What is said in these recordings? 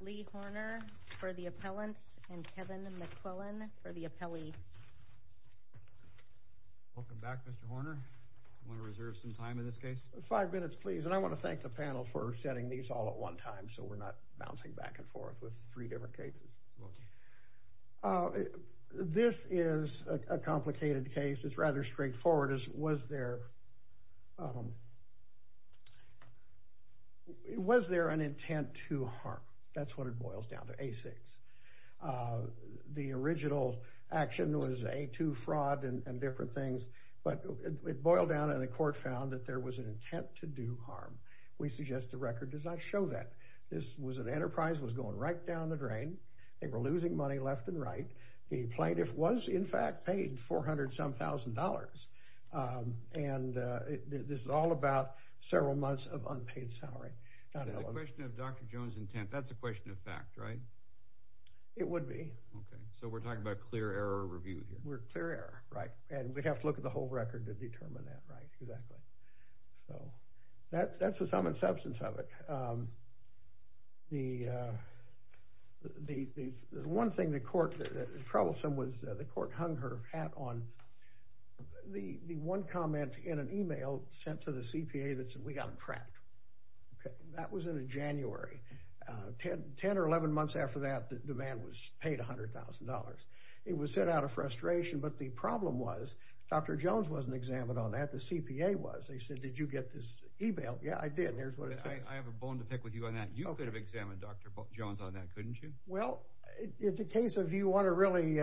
Lee Horner for the appellants and Kevin McQuillan for the appellee. Welcome back Mr. Horner. Do you want to reserve some time in this case? Five minutes please. And I want to thank the panel for setting these all at one time so we're not bouncing back and forth with three different cases. Okay. This is a complicated case. It's rather straightforward. Was there an intent to harm? That's what it boils down to, A6. The original action was A2 fraud and different things. But it boiled down and the court found that there was an intent to do harm. We suggest the record does not show that. This was an enterprise that was going right down the drain. They were losing money left and right. The plaintiff was in fact paid 400-some thousand dollars. And this is all about several months of unpaid salary. So the question of Dr. Jones' intent, that's a question of fact, right? It would be. Okay. So we're talking about a clear error review here. We're clear error, right. And we'd have to look at the whole record to determine that, right. Exactly. So that's the sum and substance of it. The one thing that was troublesome was the court hung her hat on the one comment in an email sent to the CPA that said we got him trapped. That was in January. Ten or 11 months after that, the man was paid $100,000. It was sent out of frustration. But the problem was Dr. Jones wasn't examined on that. The CPA was. They said did you get this email. Yeah, I did. Here's what it says. I have a bone to pick with you on that. You could have examined Dr. Jones on that, couldn't you? Well, it's a case of you want to really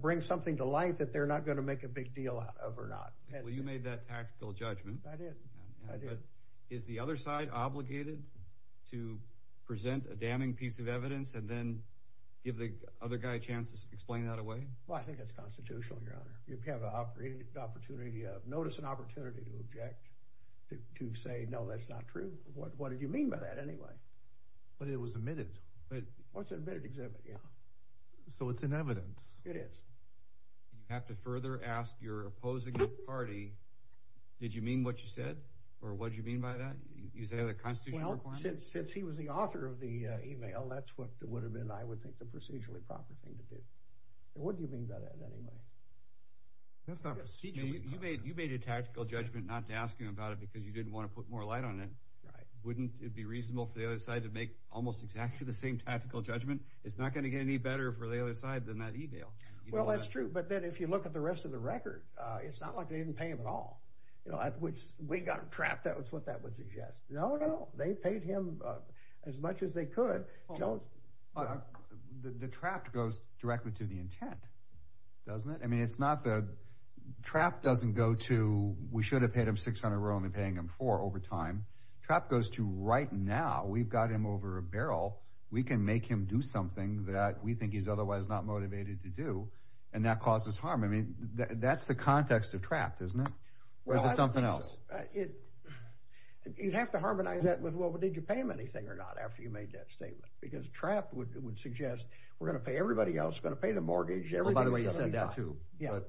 bring something to light that they're not going to make a big deal out of or not. Well, you made that tactical judgment. I did. I did. Is the other side obligated to present a damning piece of evidence and then give the other guy a chance to explain that away? Well, I think it's constitutional, Your Honor. Notice an opportunity to object, to say no, that's not true. What did you mean by that anyway? But it was admitted. It was an admitted exhibit, yeah. So it's in evidence. It is. You have to further ask your opposing party, did you mean what you said? Or what did you mean by that? Is there a constitutional requirement? Well, since he was the author of the email, that's what it would have been, I would think, the procedurally proper thing to do. What did you mean by that anyway? That's not procedural. You made a tactical judgment not to ask him about it because you didn't want to put more light on it. Right. Wouldn't it be reasonable for the other side to make almost exactly the same tactical judgment? It's not going to get any better for the other side than that email. Well, that's true, but then if you look at the rest of the record, it's not like they didn't pay him at all. You know, we got him trapped, that's what that would suggest. No, no, they paid him as much as they could. The trapped goes directly to the intent, doesn't it? I mean, it's not the trapped doesn't go to we should have paid him 600, we're only paying him four over time. Trapped goes to right now, we've got him over a barrel, we can make him do something that we think he's otherwise not motivated to do, and that causes harm. I mean, that's the context of trapped, isn't it? Or is it something else? You'd have to harmonize that with, well, did you pay him anything or not after you made that statement? Because trapped would suggest we're going to pay everybody else, we're going to pay the mortgage. Oh, by the way, you said that too. Yeah,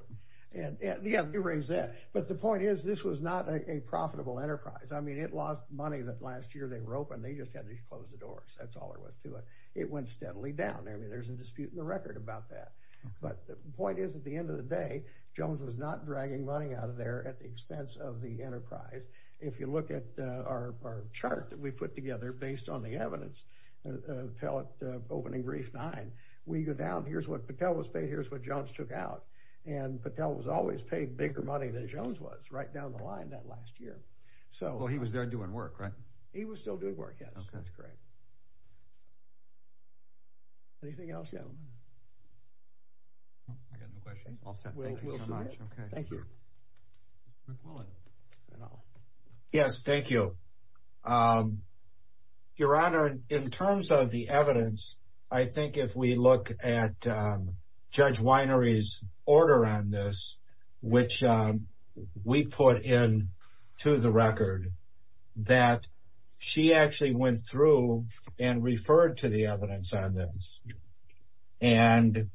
you raised that. But the point is this was not a profitable enterprise. I mean, it lost money that last year they were open, they just had to close the doors, that's all there was to it. It went steadily down. I mean, there's a dispute in the record about that. But the point is at the end of the day, Jones was not dragging money out of there at the expense of the enterprise. If you look at our chart that we put together based on the evidence, opening brief nine, we go down, here's what Patel was paid, here's what Jones took out. And Patel was always paid bigger money than Jones was right down the line that last year. Well, he was there doing work, right? He was still doing work, yes. Okay. That's correct. Anything else, gentlemen? I got no questions. All set. Thank you so much. Thank you. Rick Willett. Yes, thank you. Your Honor, in terms of the evidence, I think if we look at Judge Winery's order on this, which we put in to the record, that she actually went through and referred to the evidence on this. And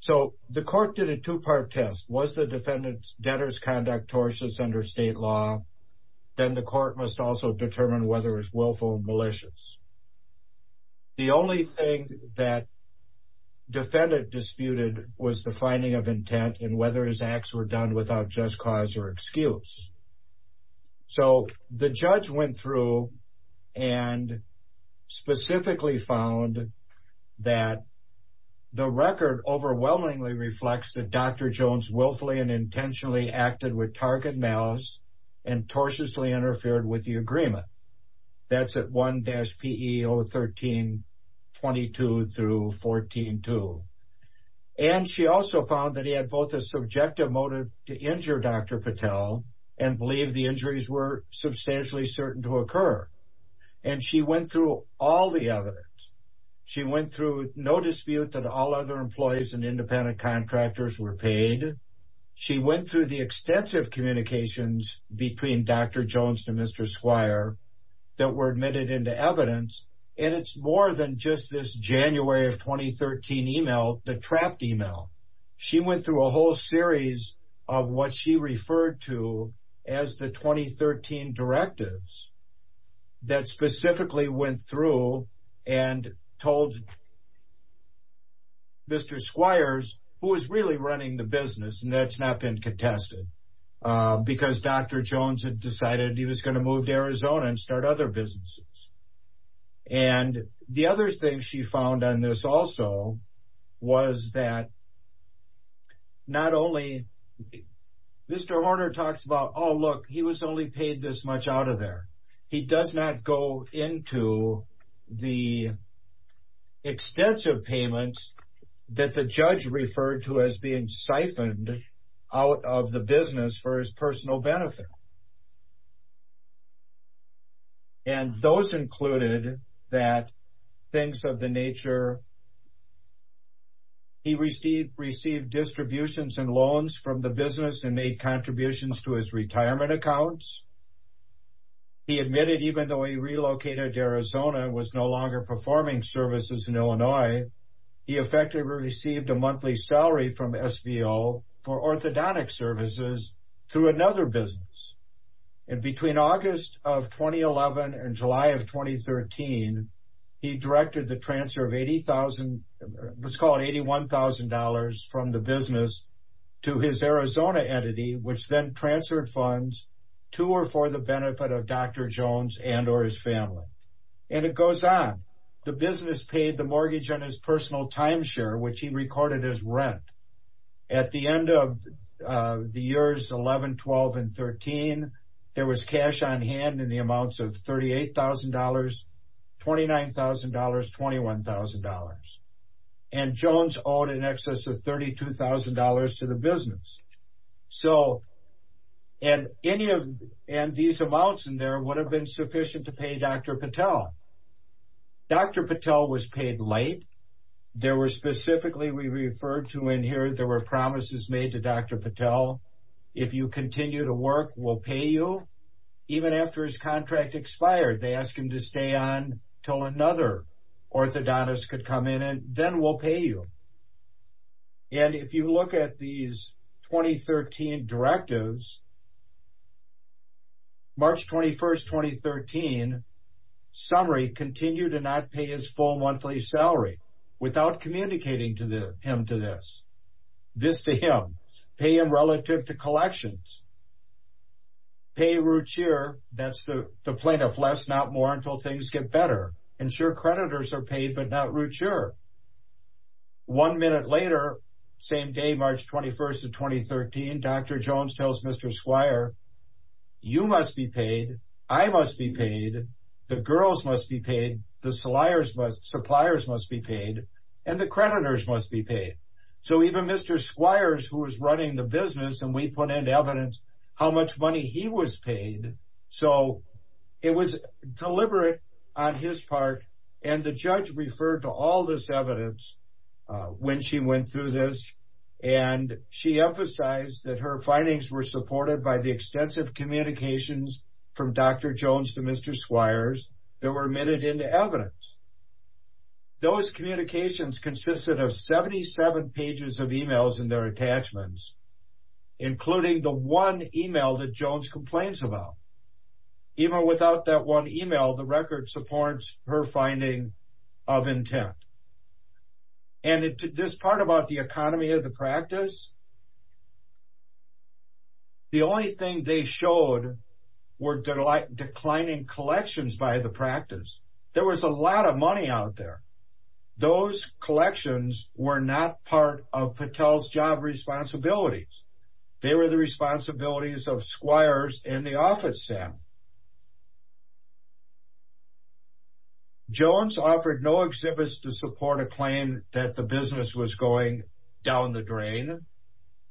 so the court did a two-part test. Was the defendant's debtors conduct tortious under state law? Then the court must also determine whether it's willful or malicious. The only thing that defendant disputed was the finding of intent and whether his acts were done without just cause or excuse. So the judge went through and specifically found that the record overwhelmingly reflects that Dr. Jones willfully and intentionally acted with target malice and tortiously interfered with the agreement. That's at 1-PE 013-22 through 14-2. And she also found that he had both a subjective motive to injure Dr. Patel and believed the injuries were substantially certain to occur. And she went through all the evidence. She went through no dispute that all other employees and independent contractors were paid. She went through the extensive communications between Dr. Jones and Mr. Squire that were admitted into evidence. And it's more than just this January of 2013 email, the trapped email. She went through a whole series of what she referred to as the 2013 directives that specifically went through and told Mr. Squires who was really running the business, and that's not been contested, because Dr. Jones had decided he was going to move to Arizona and start other businesses. And the other thing she found on this also was that not only, Mr. Horner talks about, oh, look, he was only paid this much out of there. He does not go into the extensive payments that the judge referred to as being siphoned out of the business for his personal benefit. And those included that things of the nature, he received distributions and loans from the business and made contributions to his retirement accounts. He admitted even though he relocated to Arizona and was no longer performing services in Illinois, he effectively received a monthly salary from SVO for orthodontic services through another business. And between August of 2011 and July of 2013, he directed the transfer of $81,000 from the business to his Arizona entity, which then transferred funds to or for the benefit of Dr. Jones and or his family. And it goes on. The business paid the mortgage on his personal timeshare, which he recorded as rent. At the end of the years 11, 12, and 13, there was cash on hand in the amounts of $38,000, $29,000, $21,000. And Jones owed in excess of $32,000 to the business. And these amounts in there would have been sufficient to pay Dr. Patel. Dr. Patel was paid late. There were specifically we referred to in here, there were promises made to Dr. Patel. If you continue to work, we'll pay you. Even after his contract expired, they asked him to stay on until another orthodontist could come in and then we'll pay you. And if you look at these 2013 directives, March 21st, 2013, summary, continue to not pay his full monthly salary without communicating to him to this. This to him. Pay him relative to collections. Pay root cheer. That's the plaintiff. Less, not more until things get better. Ensure creditors are paid but not root cheer. One minute later, same day, March 21st of 2013, Dr. Jones tells Mr. Squire, you must be paid. I must be paid. The girls must be paid. The suppliers must be paid. And the creditors must be paid. So even Mr. Squires, who was running the business, and we put in evidence how much money he was paid. So it was deliberate on his part. And the judge referred to all this evidence when she went through this. And she emphasized that her findings were supported by the extensive communications from Dr. Jones to Mr. Squires that were admitted into evidence. Those communications consisted of 77 pages of e-mails and their attachments, including the one e-mail that Jones complains about. Even without that one e-mail, the record supports her finding of intent. And this part about the economy of the practice, the only thing they showed were declining collections by the practice. There was a lot of money out there. Those collections were not part of Patel's job responsibilities. They were the responsibilities of Squires and the office staff. Jones offered no exhibits to support a claim that the business was going down the drain,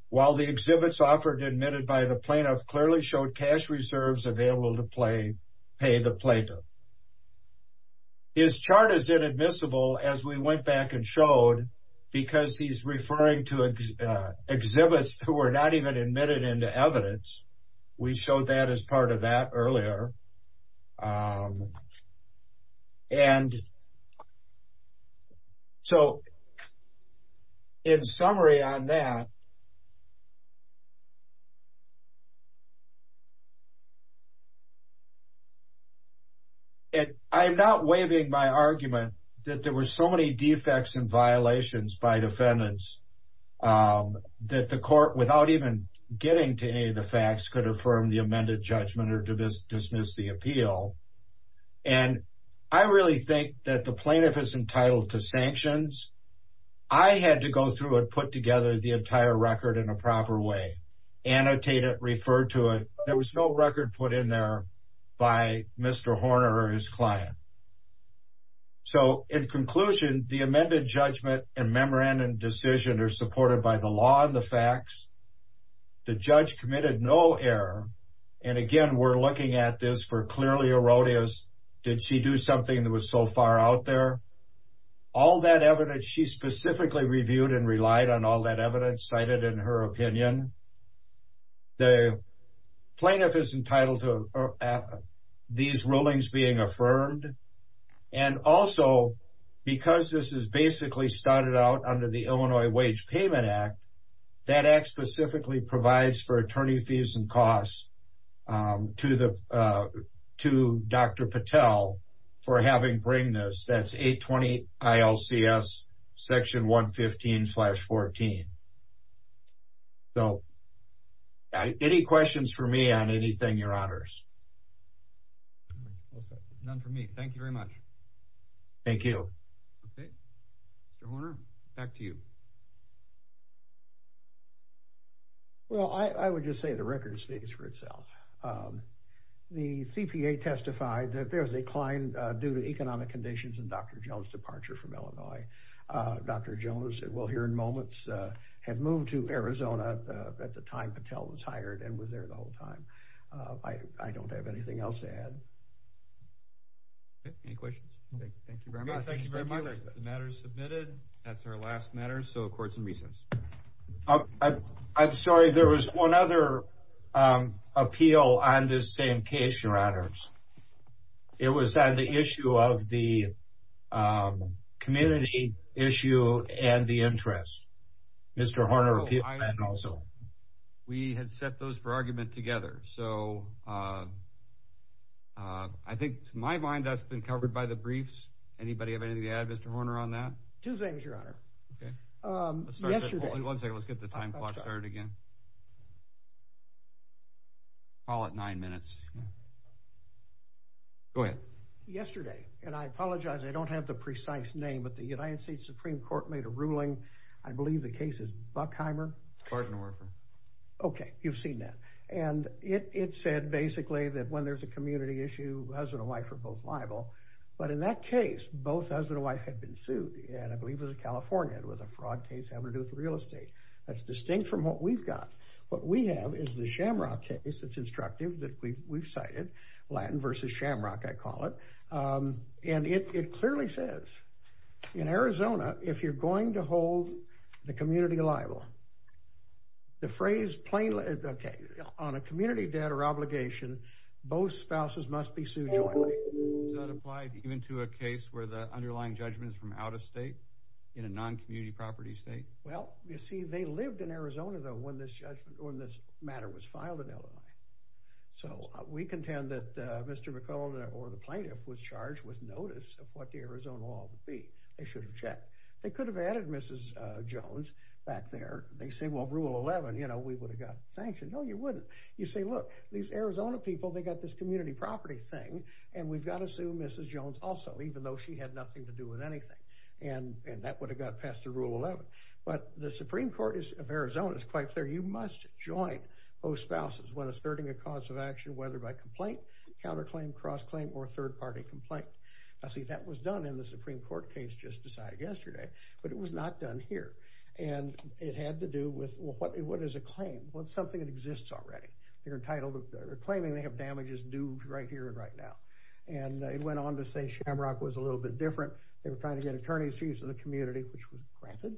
while the exhibits offered and admitted by the plaintiff clearly showed cash reserves available to pay the plaintiff. His chart is inadmissible, as we went back and showed, because he's referring to exhibits who were not even admitted into evidence. We showed that as part of that earlier. So, in summary on that, I'm not waiving my argument that there were so many defects and violations by defendants that the court, without even getting to any of the facts, could affirm the amended judgment or dismiss the appeal. And I really think that the plaintiff is entitled to sanctions. I had to go through and put together the entire record in a proper way, annotate it, refer to it. There was no record put in there by Mr. Horner or his client. So, in conclusion, the amended judgment and memorandum decision are supported by the law and the facts. The judge committed no error. And again, we're looking at this for clearly erroneous. Did she do something that was so far out there? All that evidence she specifically reviewed and relied on all that evidence cited in her opinion. The plaintiff is entitled to these rulings being affirmed. And also, because this is basically started out under the Illinois Wage Payment Act, that act specifically provides for attorney fees and costs to Dr. Patel for having bring this. That's 820-ILCS, section 115-14. So, any questions for me on anything, your honors? None for me. Thank you very much. Thank you. Okay. Mr. Horner, back to you. Well, I would just say the record speaks for itself. The CPA testified that there was a decline due to economic conditions in Dr. Jones' departure from Illinois. Dr. Jones, we'll hear in moments, had moved to Arizona at the time Patel was hired and was there the whole time. I don't have anything else to add. Okay. Any questions? Thank you very much. Thank you very much. The matter is submitted. That's our last matter. So, courts and reasons. I'm sorry. There was one other appeal on this same case, your honors. It was on the issue of the community issue and the interest. Mr. Horner, if you could comment also. We had set those for argument together. So, I think, to my mind, that's been covered by the briefs. Anybody have anything to add, Mr. Horner, on that? Two things, your honor. Okay. Yesterday. One second. Let's get the time clock started again. Call it nine minutes. Go ahead. Yesterday. And I apologize, I don't have the precise name, but the United States Supreme Court made a ruling. I believe the case is Buckheimer. Barton Orford. Okay. You've seen that. And it said, basically, that when there's a community issue, husband and wife are both liable. But in that case, both husband and wife had been sued. And I believe it was in California. It was a fraud case having to do with real estate. That's distinct from what we've got. What we have is the Shamrock case. It's instructive, that we've cited. Latin versus Shamrock, I call it. And it clearly says, in Arizona, if you're going to hold the community liable, the phrase plainly, okay, on a community debt or obligation, both spouses must be sued jointly. Does that apply even to a case where the underlying judgment is from out of state, in a non-community property state? Well, you see, they lived in Arizona, though, when this matter was filed in Illinois. So we contend that Mr. McClellan, or the plaintiff, was charged with notice of what the Arizona law would be. They should have checked. They could have added Mrs. Jones back there. They say, well, Rule 11, you know, we would have got sanctioned. No, you wouldn't. You say, look, these Arizona people, they've got this community property thing, and we've got to sue Mrs. Jones also, even though she had nothing to do with anything. And that would have got passed the Rule 11. But the Supreme Court of Arizona is quite clear. You must join both spouses when asserting a cause of action, whether by complaint, counterclaim, cross-claim, or third-party complaint. Now, see, that was done in the Supreme Court case just decided yesterday, but it was not done here. And it had to do with, well, what is a claim? Well, it's something that exists already. They're claiming they have damages due right here and right now. And it went on to say Shamrock was a little bit different. They were trying to get attorneys to use in the community, which was granted.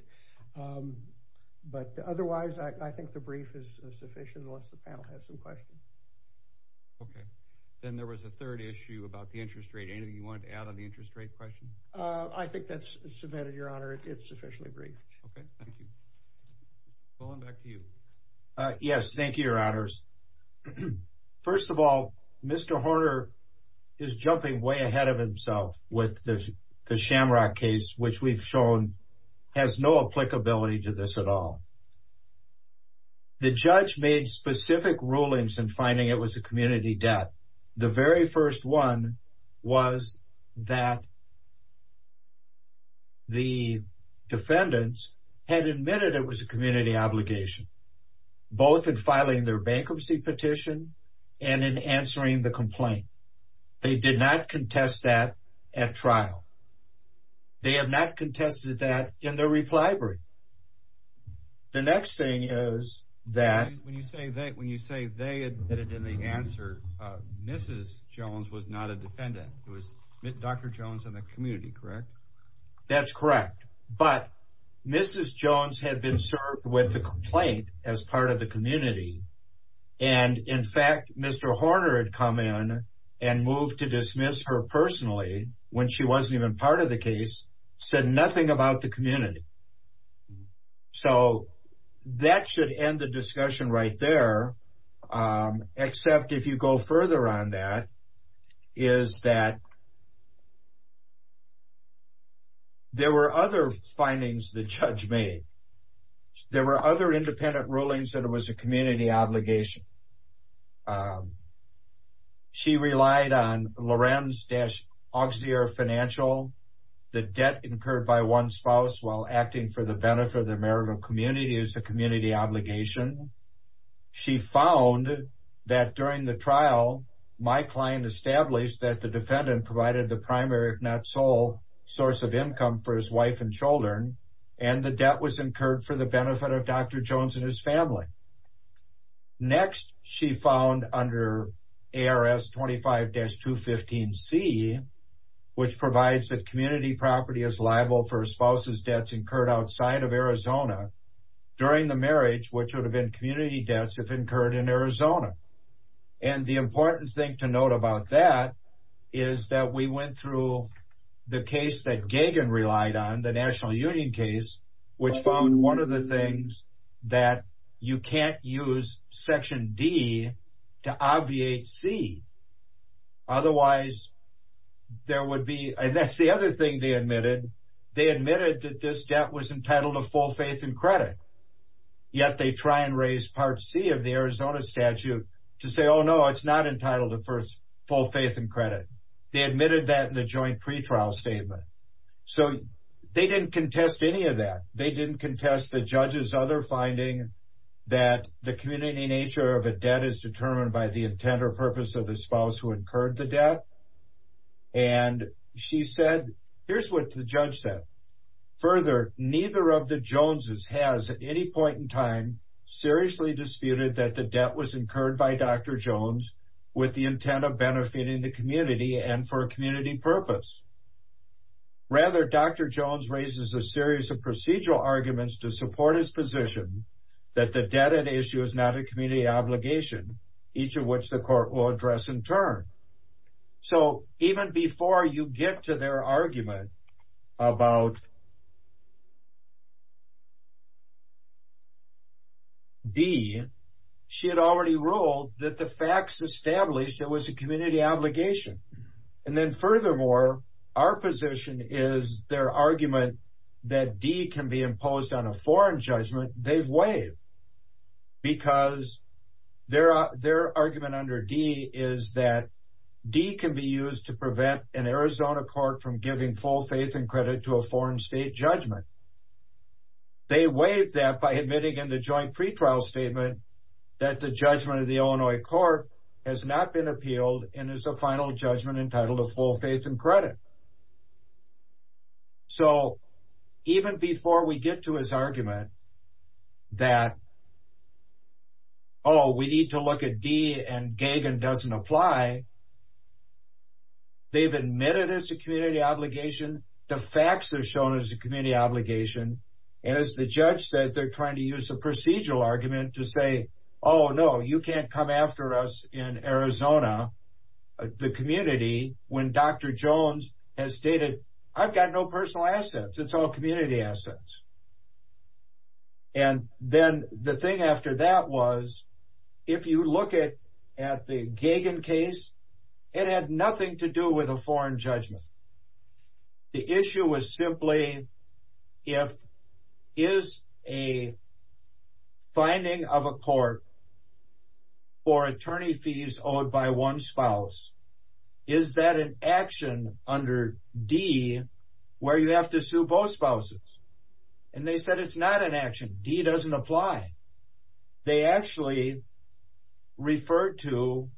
But otherwise, I think the brief is sufficient, unless the panel has some questions. Okay. Then there was a third issue about the interest rate. Anything you wanted to add on the interest rate question? I think that's submitted, Your Honor. It's sufficiently brief. Okay, thank you. Well, I'm back to you. Yes, thank you, Your Honors. First of all, Mr. Horner is jumping way ahead of himself with the Shamrock case, which we've shown has no applicability to this at all. The judge made specific rulings in finding it was a community debt. The very first one was that the defendants had admitted it was a community obligation, both in filing their bankruptcy petition and in answering the complaint. They did not contest that at trial. They have not contested that in their reply brief. The next thing is that when you say they admitted in the answer, Mrs. Jones was not a defendant. It was Dr. Jones and the community, correct? That's correct. But Mrs. Jones had been served with the complaint as part of the community. And, in fact, Mr. Horner had come in and moved to dismiss her personally when she wasn't even part of the case, said nothing about the community. So that should end the discussion right there, except if you go further on that, is that there were other findings the judge made. There were other independent rulings that it was a community obligation. She relied on Lorenz-Auxier financial, the debt incurred by one spouse while acting for the benefit of the marital community as a community obligation. She found that during the trial, my client established that the defendant provided the primary, if not sole, source of income for his wife and children, and the debt was incurred for the benefit of Dr. Jones and his family. Next, she found under ARS 25-215C, which provides that community property is liable for a spouse's debts incurred outside of Arizona during the marriage, which would have been community debts if incurred in Arizona. And the important thing to note about that is that we went through the case that was a union case, which found one of the things that you can't use Section D to obviate C. Otherwise, there would be, and that's the other thing they admitted, they admitted that this debt was entitled to full faith and credit, yet they try and raise Part C of the Arizona statute to say, oh, no, it's not entitled to full faith and credit. They admitted that in the joint pretrial statement. So they didn't contest any of that. They didn't contest the judge's other finding that the community nature of a debt is determined by the intent or purpose of the spouse who incurred the debt. And she said, here's what the judge said. Further, neither of the Joneses has at any point in time seriously disputed that the debt was incurred by Dr. Jones with the intent of benefiting the community and for a community purpose. Rather, Dr. Jones raises a series of procedural arguments to support his position that the debt at issue is not a community obligation, each of which the court will address in turn. So even before you get to their argument about D, she had already ruled that the facts established it was a community obligation. And then furthermore, our position is their argument that D can be imposed on a foreign judgment they've waived because their argument under D is that D can be used to prevent an Arizona court from giving full faith and credit to a foreign state judgment. They waived that by admitting in the joint pretrial statement that the judgment of the Illinois court has not been appealed and is the final judgment entitled to full faith and credit. So even before we get to his argument that, oh, we need to look at D and Gagin doesn't apply, they've admitted it's a community obligation. The facts are shown as a community obligation. And as the judge said, they're trying to use a procedural argument to say, oh, no, you can't come after us in Arizona, the community, when Dr. Jones has stated, I've got no personal assets. It's all community assets. And then the thing after that was, if you look at the Gagin case, it had nothing to do with a foreign judgment. The issue was simply if is a finding of a court for attorney fees owed by one spouse, is that an action under D where you have to sue both spouses? And they said it's not an action. D doesn't apply. They actually referred to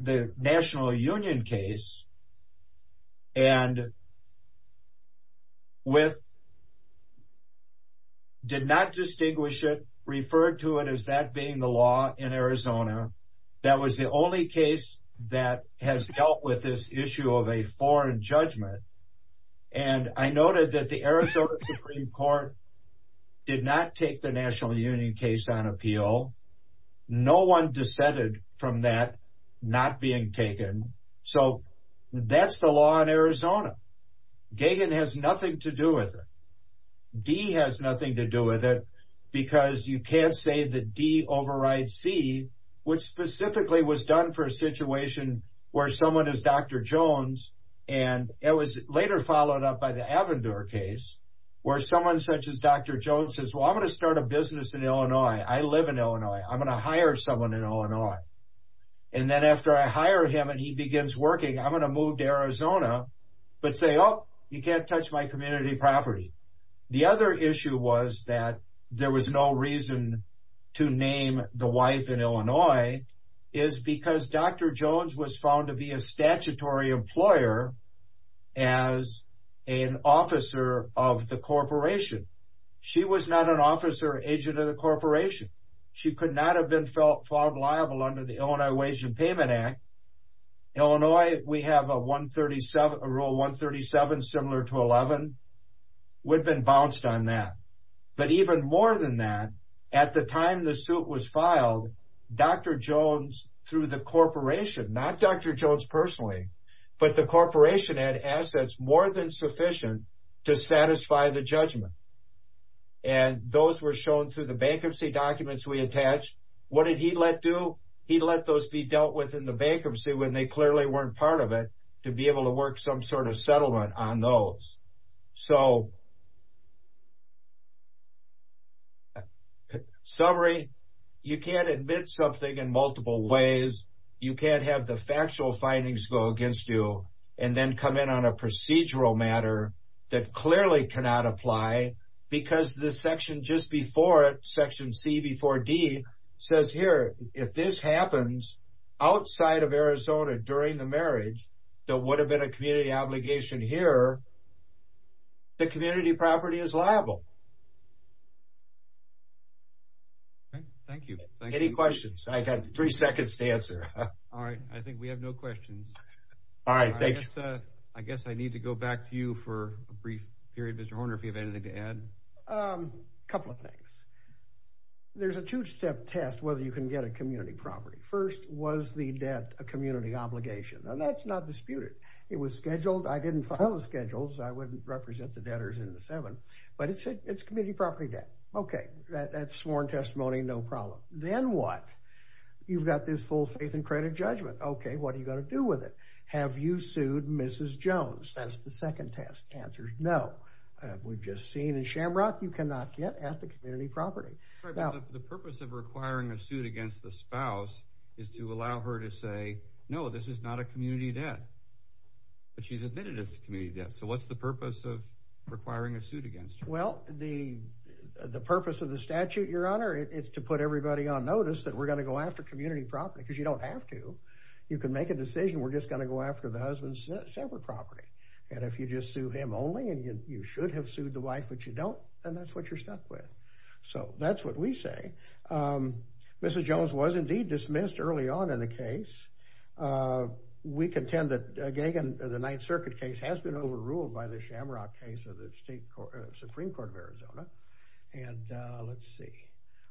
the National Union case and did not distinguish it, referred to it as that being the law in Arizona. That was the only case that has dealt with this issue of a foreign judgment. And I noted that the Arizona Supreme Court did not take the National Union case on appeal. No one dissented from that not being taken. So that's the law in Arizona. Gagin has nothing to do with it. D has nothing to do with it because you can't say that D overrides C, which specifically was done for a situation where someone is Dr. Jones and it was later followed up by the Avendure case where someone such as Dr. Jones says, well, I'm going to start a business in Illinois. I live in Illinois. I'm going to hire someone in Illinois. And then after I hire him and he begins working, I'm going to move to Arizona but say, oh, you can't touch my community property. is because Dr. Jones was found to be a statutory employer as an officer of the corporation. She was not an officer or agent of the corporation. She could not have been found liable under the Illinois Wage and Payment Act. In Illinois, we have a Rule 137 similar to 11. We've been bounced on that. But even more than that, at the time the suit was filed, Dr. Jones, through the corporation, not Dr. Jones personally, but the corporation had assets more than sufficient to satisfy the judgment. And those were shown through the bankruptcy documents we attached. What did he let do? He let those be dealt with in the bankruptcy when they clearly weren't part of it to be able to work some sort of settlement on those. So, summary, you can't admit something in multiple ways. You can't have the factual findings go against you and then come in on a procedural matter that clearly cannot apply because the section just before it, Section C before D, says here if this happens outside of Arizona during the marriage, that would have been a community obligation here, the community property is liable. Thank you. Any questions? I've got three seconds to answer. All right. I think we have no questions. All right. Thank you. I guess I need to go back to you for a brief period, Mr. Horner, if you have anything to add. A couple of things. There's a two-step test whether you can get a community property. First, was the debt a community obligation? Now, that's not disputed. It was scheduled. I didn't file the schedules. I wouldn't represent the debtors in the seven. But it's community property debt. Okay, that's sworn testimony, no problem. Then what? You've got this full faith and credit judgment. Okay, what are you going to do with it? Have you sued Mrs. Jones? That's the second test. The answer is no. We've just seen in Shamrock you cannot get at the community property. The purpose of requiring a suit against the spouse is to allow her to say, no, this is not a community debt, but she's admitted it's a community debt. So what's the purpose of requiring a suit against her? Well, the purpose of the statute, Your Honor, is to put everybody on notice that we're going to go after community property because you don't have to. You can make a decision. We're just going to go after the husband's separate property. And if you just sue him only and you should have sued the wife but you don't, then that's what you're stuck with. So that's what we say. Mrs. Jones was indeed dismissed early on in the case. We contend that Gagan, the Ninth Circuit case, has been overruled by the Shamrock case of the Supreme Court of Arizona. And let's see.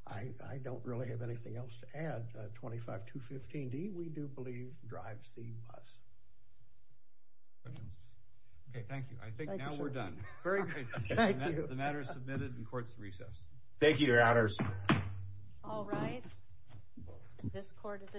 I don't really have anything else to add. 25215D, we do believe, drives the bus. Okay, thank you. I think now we're done. Very good. The matter is submitted and the court is recessed. Thank you, Your Honors. All rise. This court is adjourned.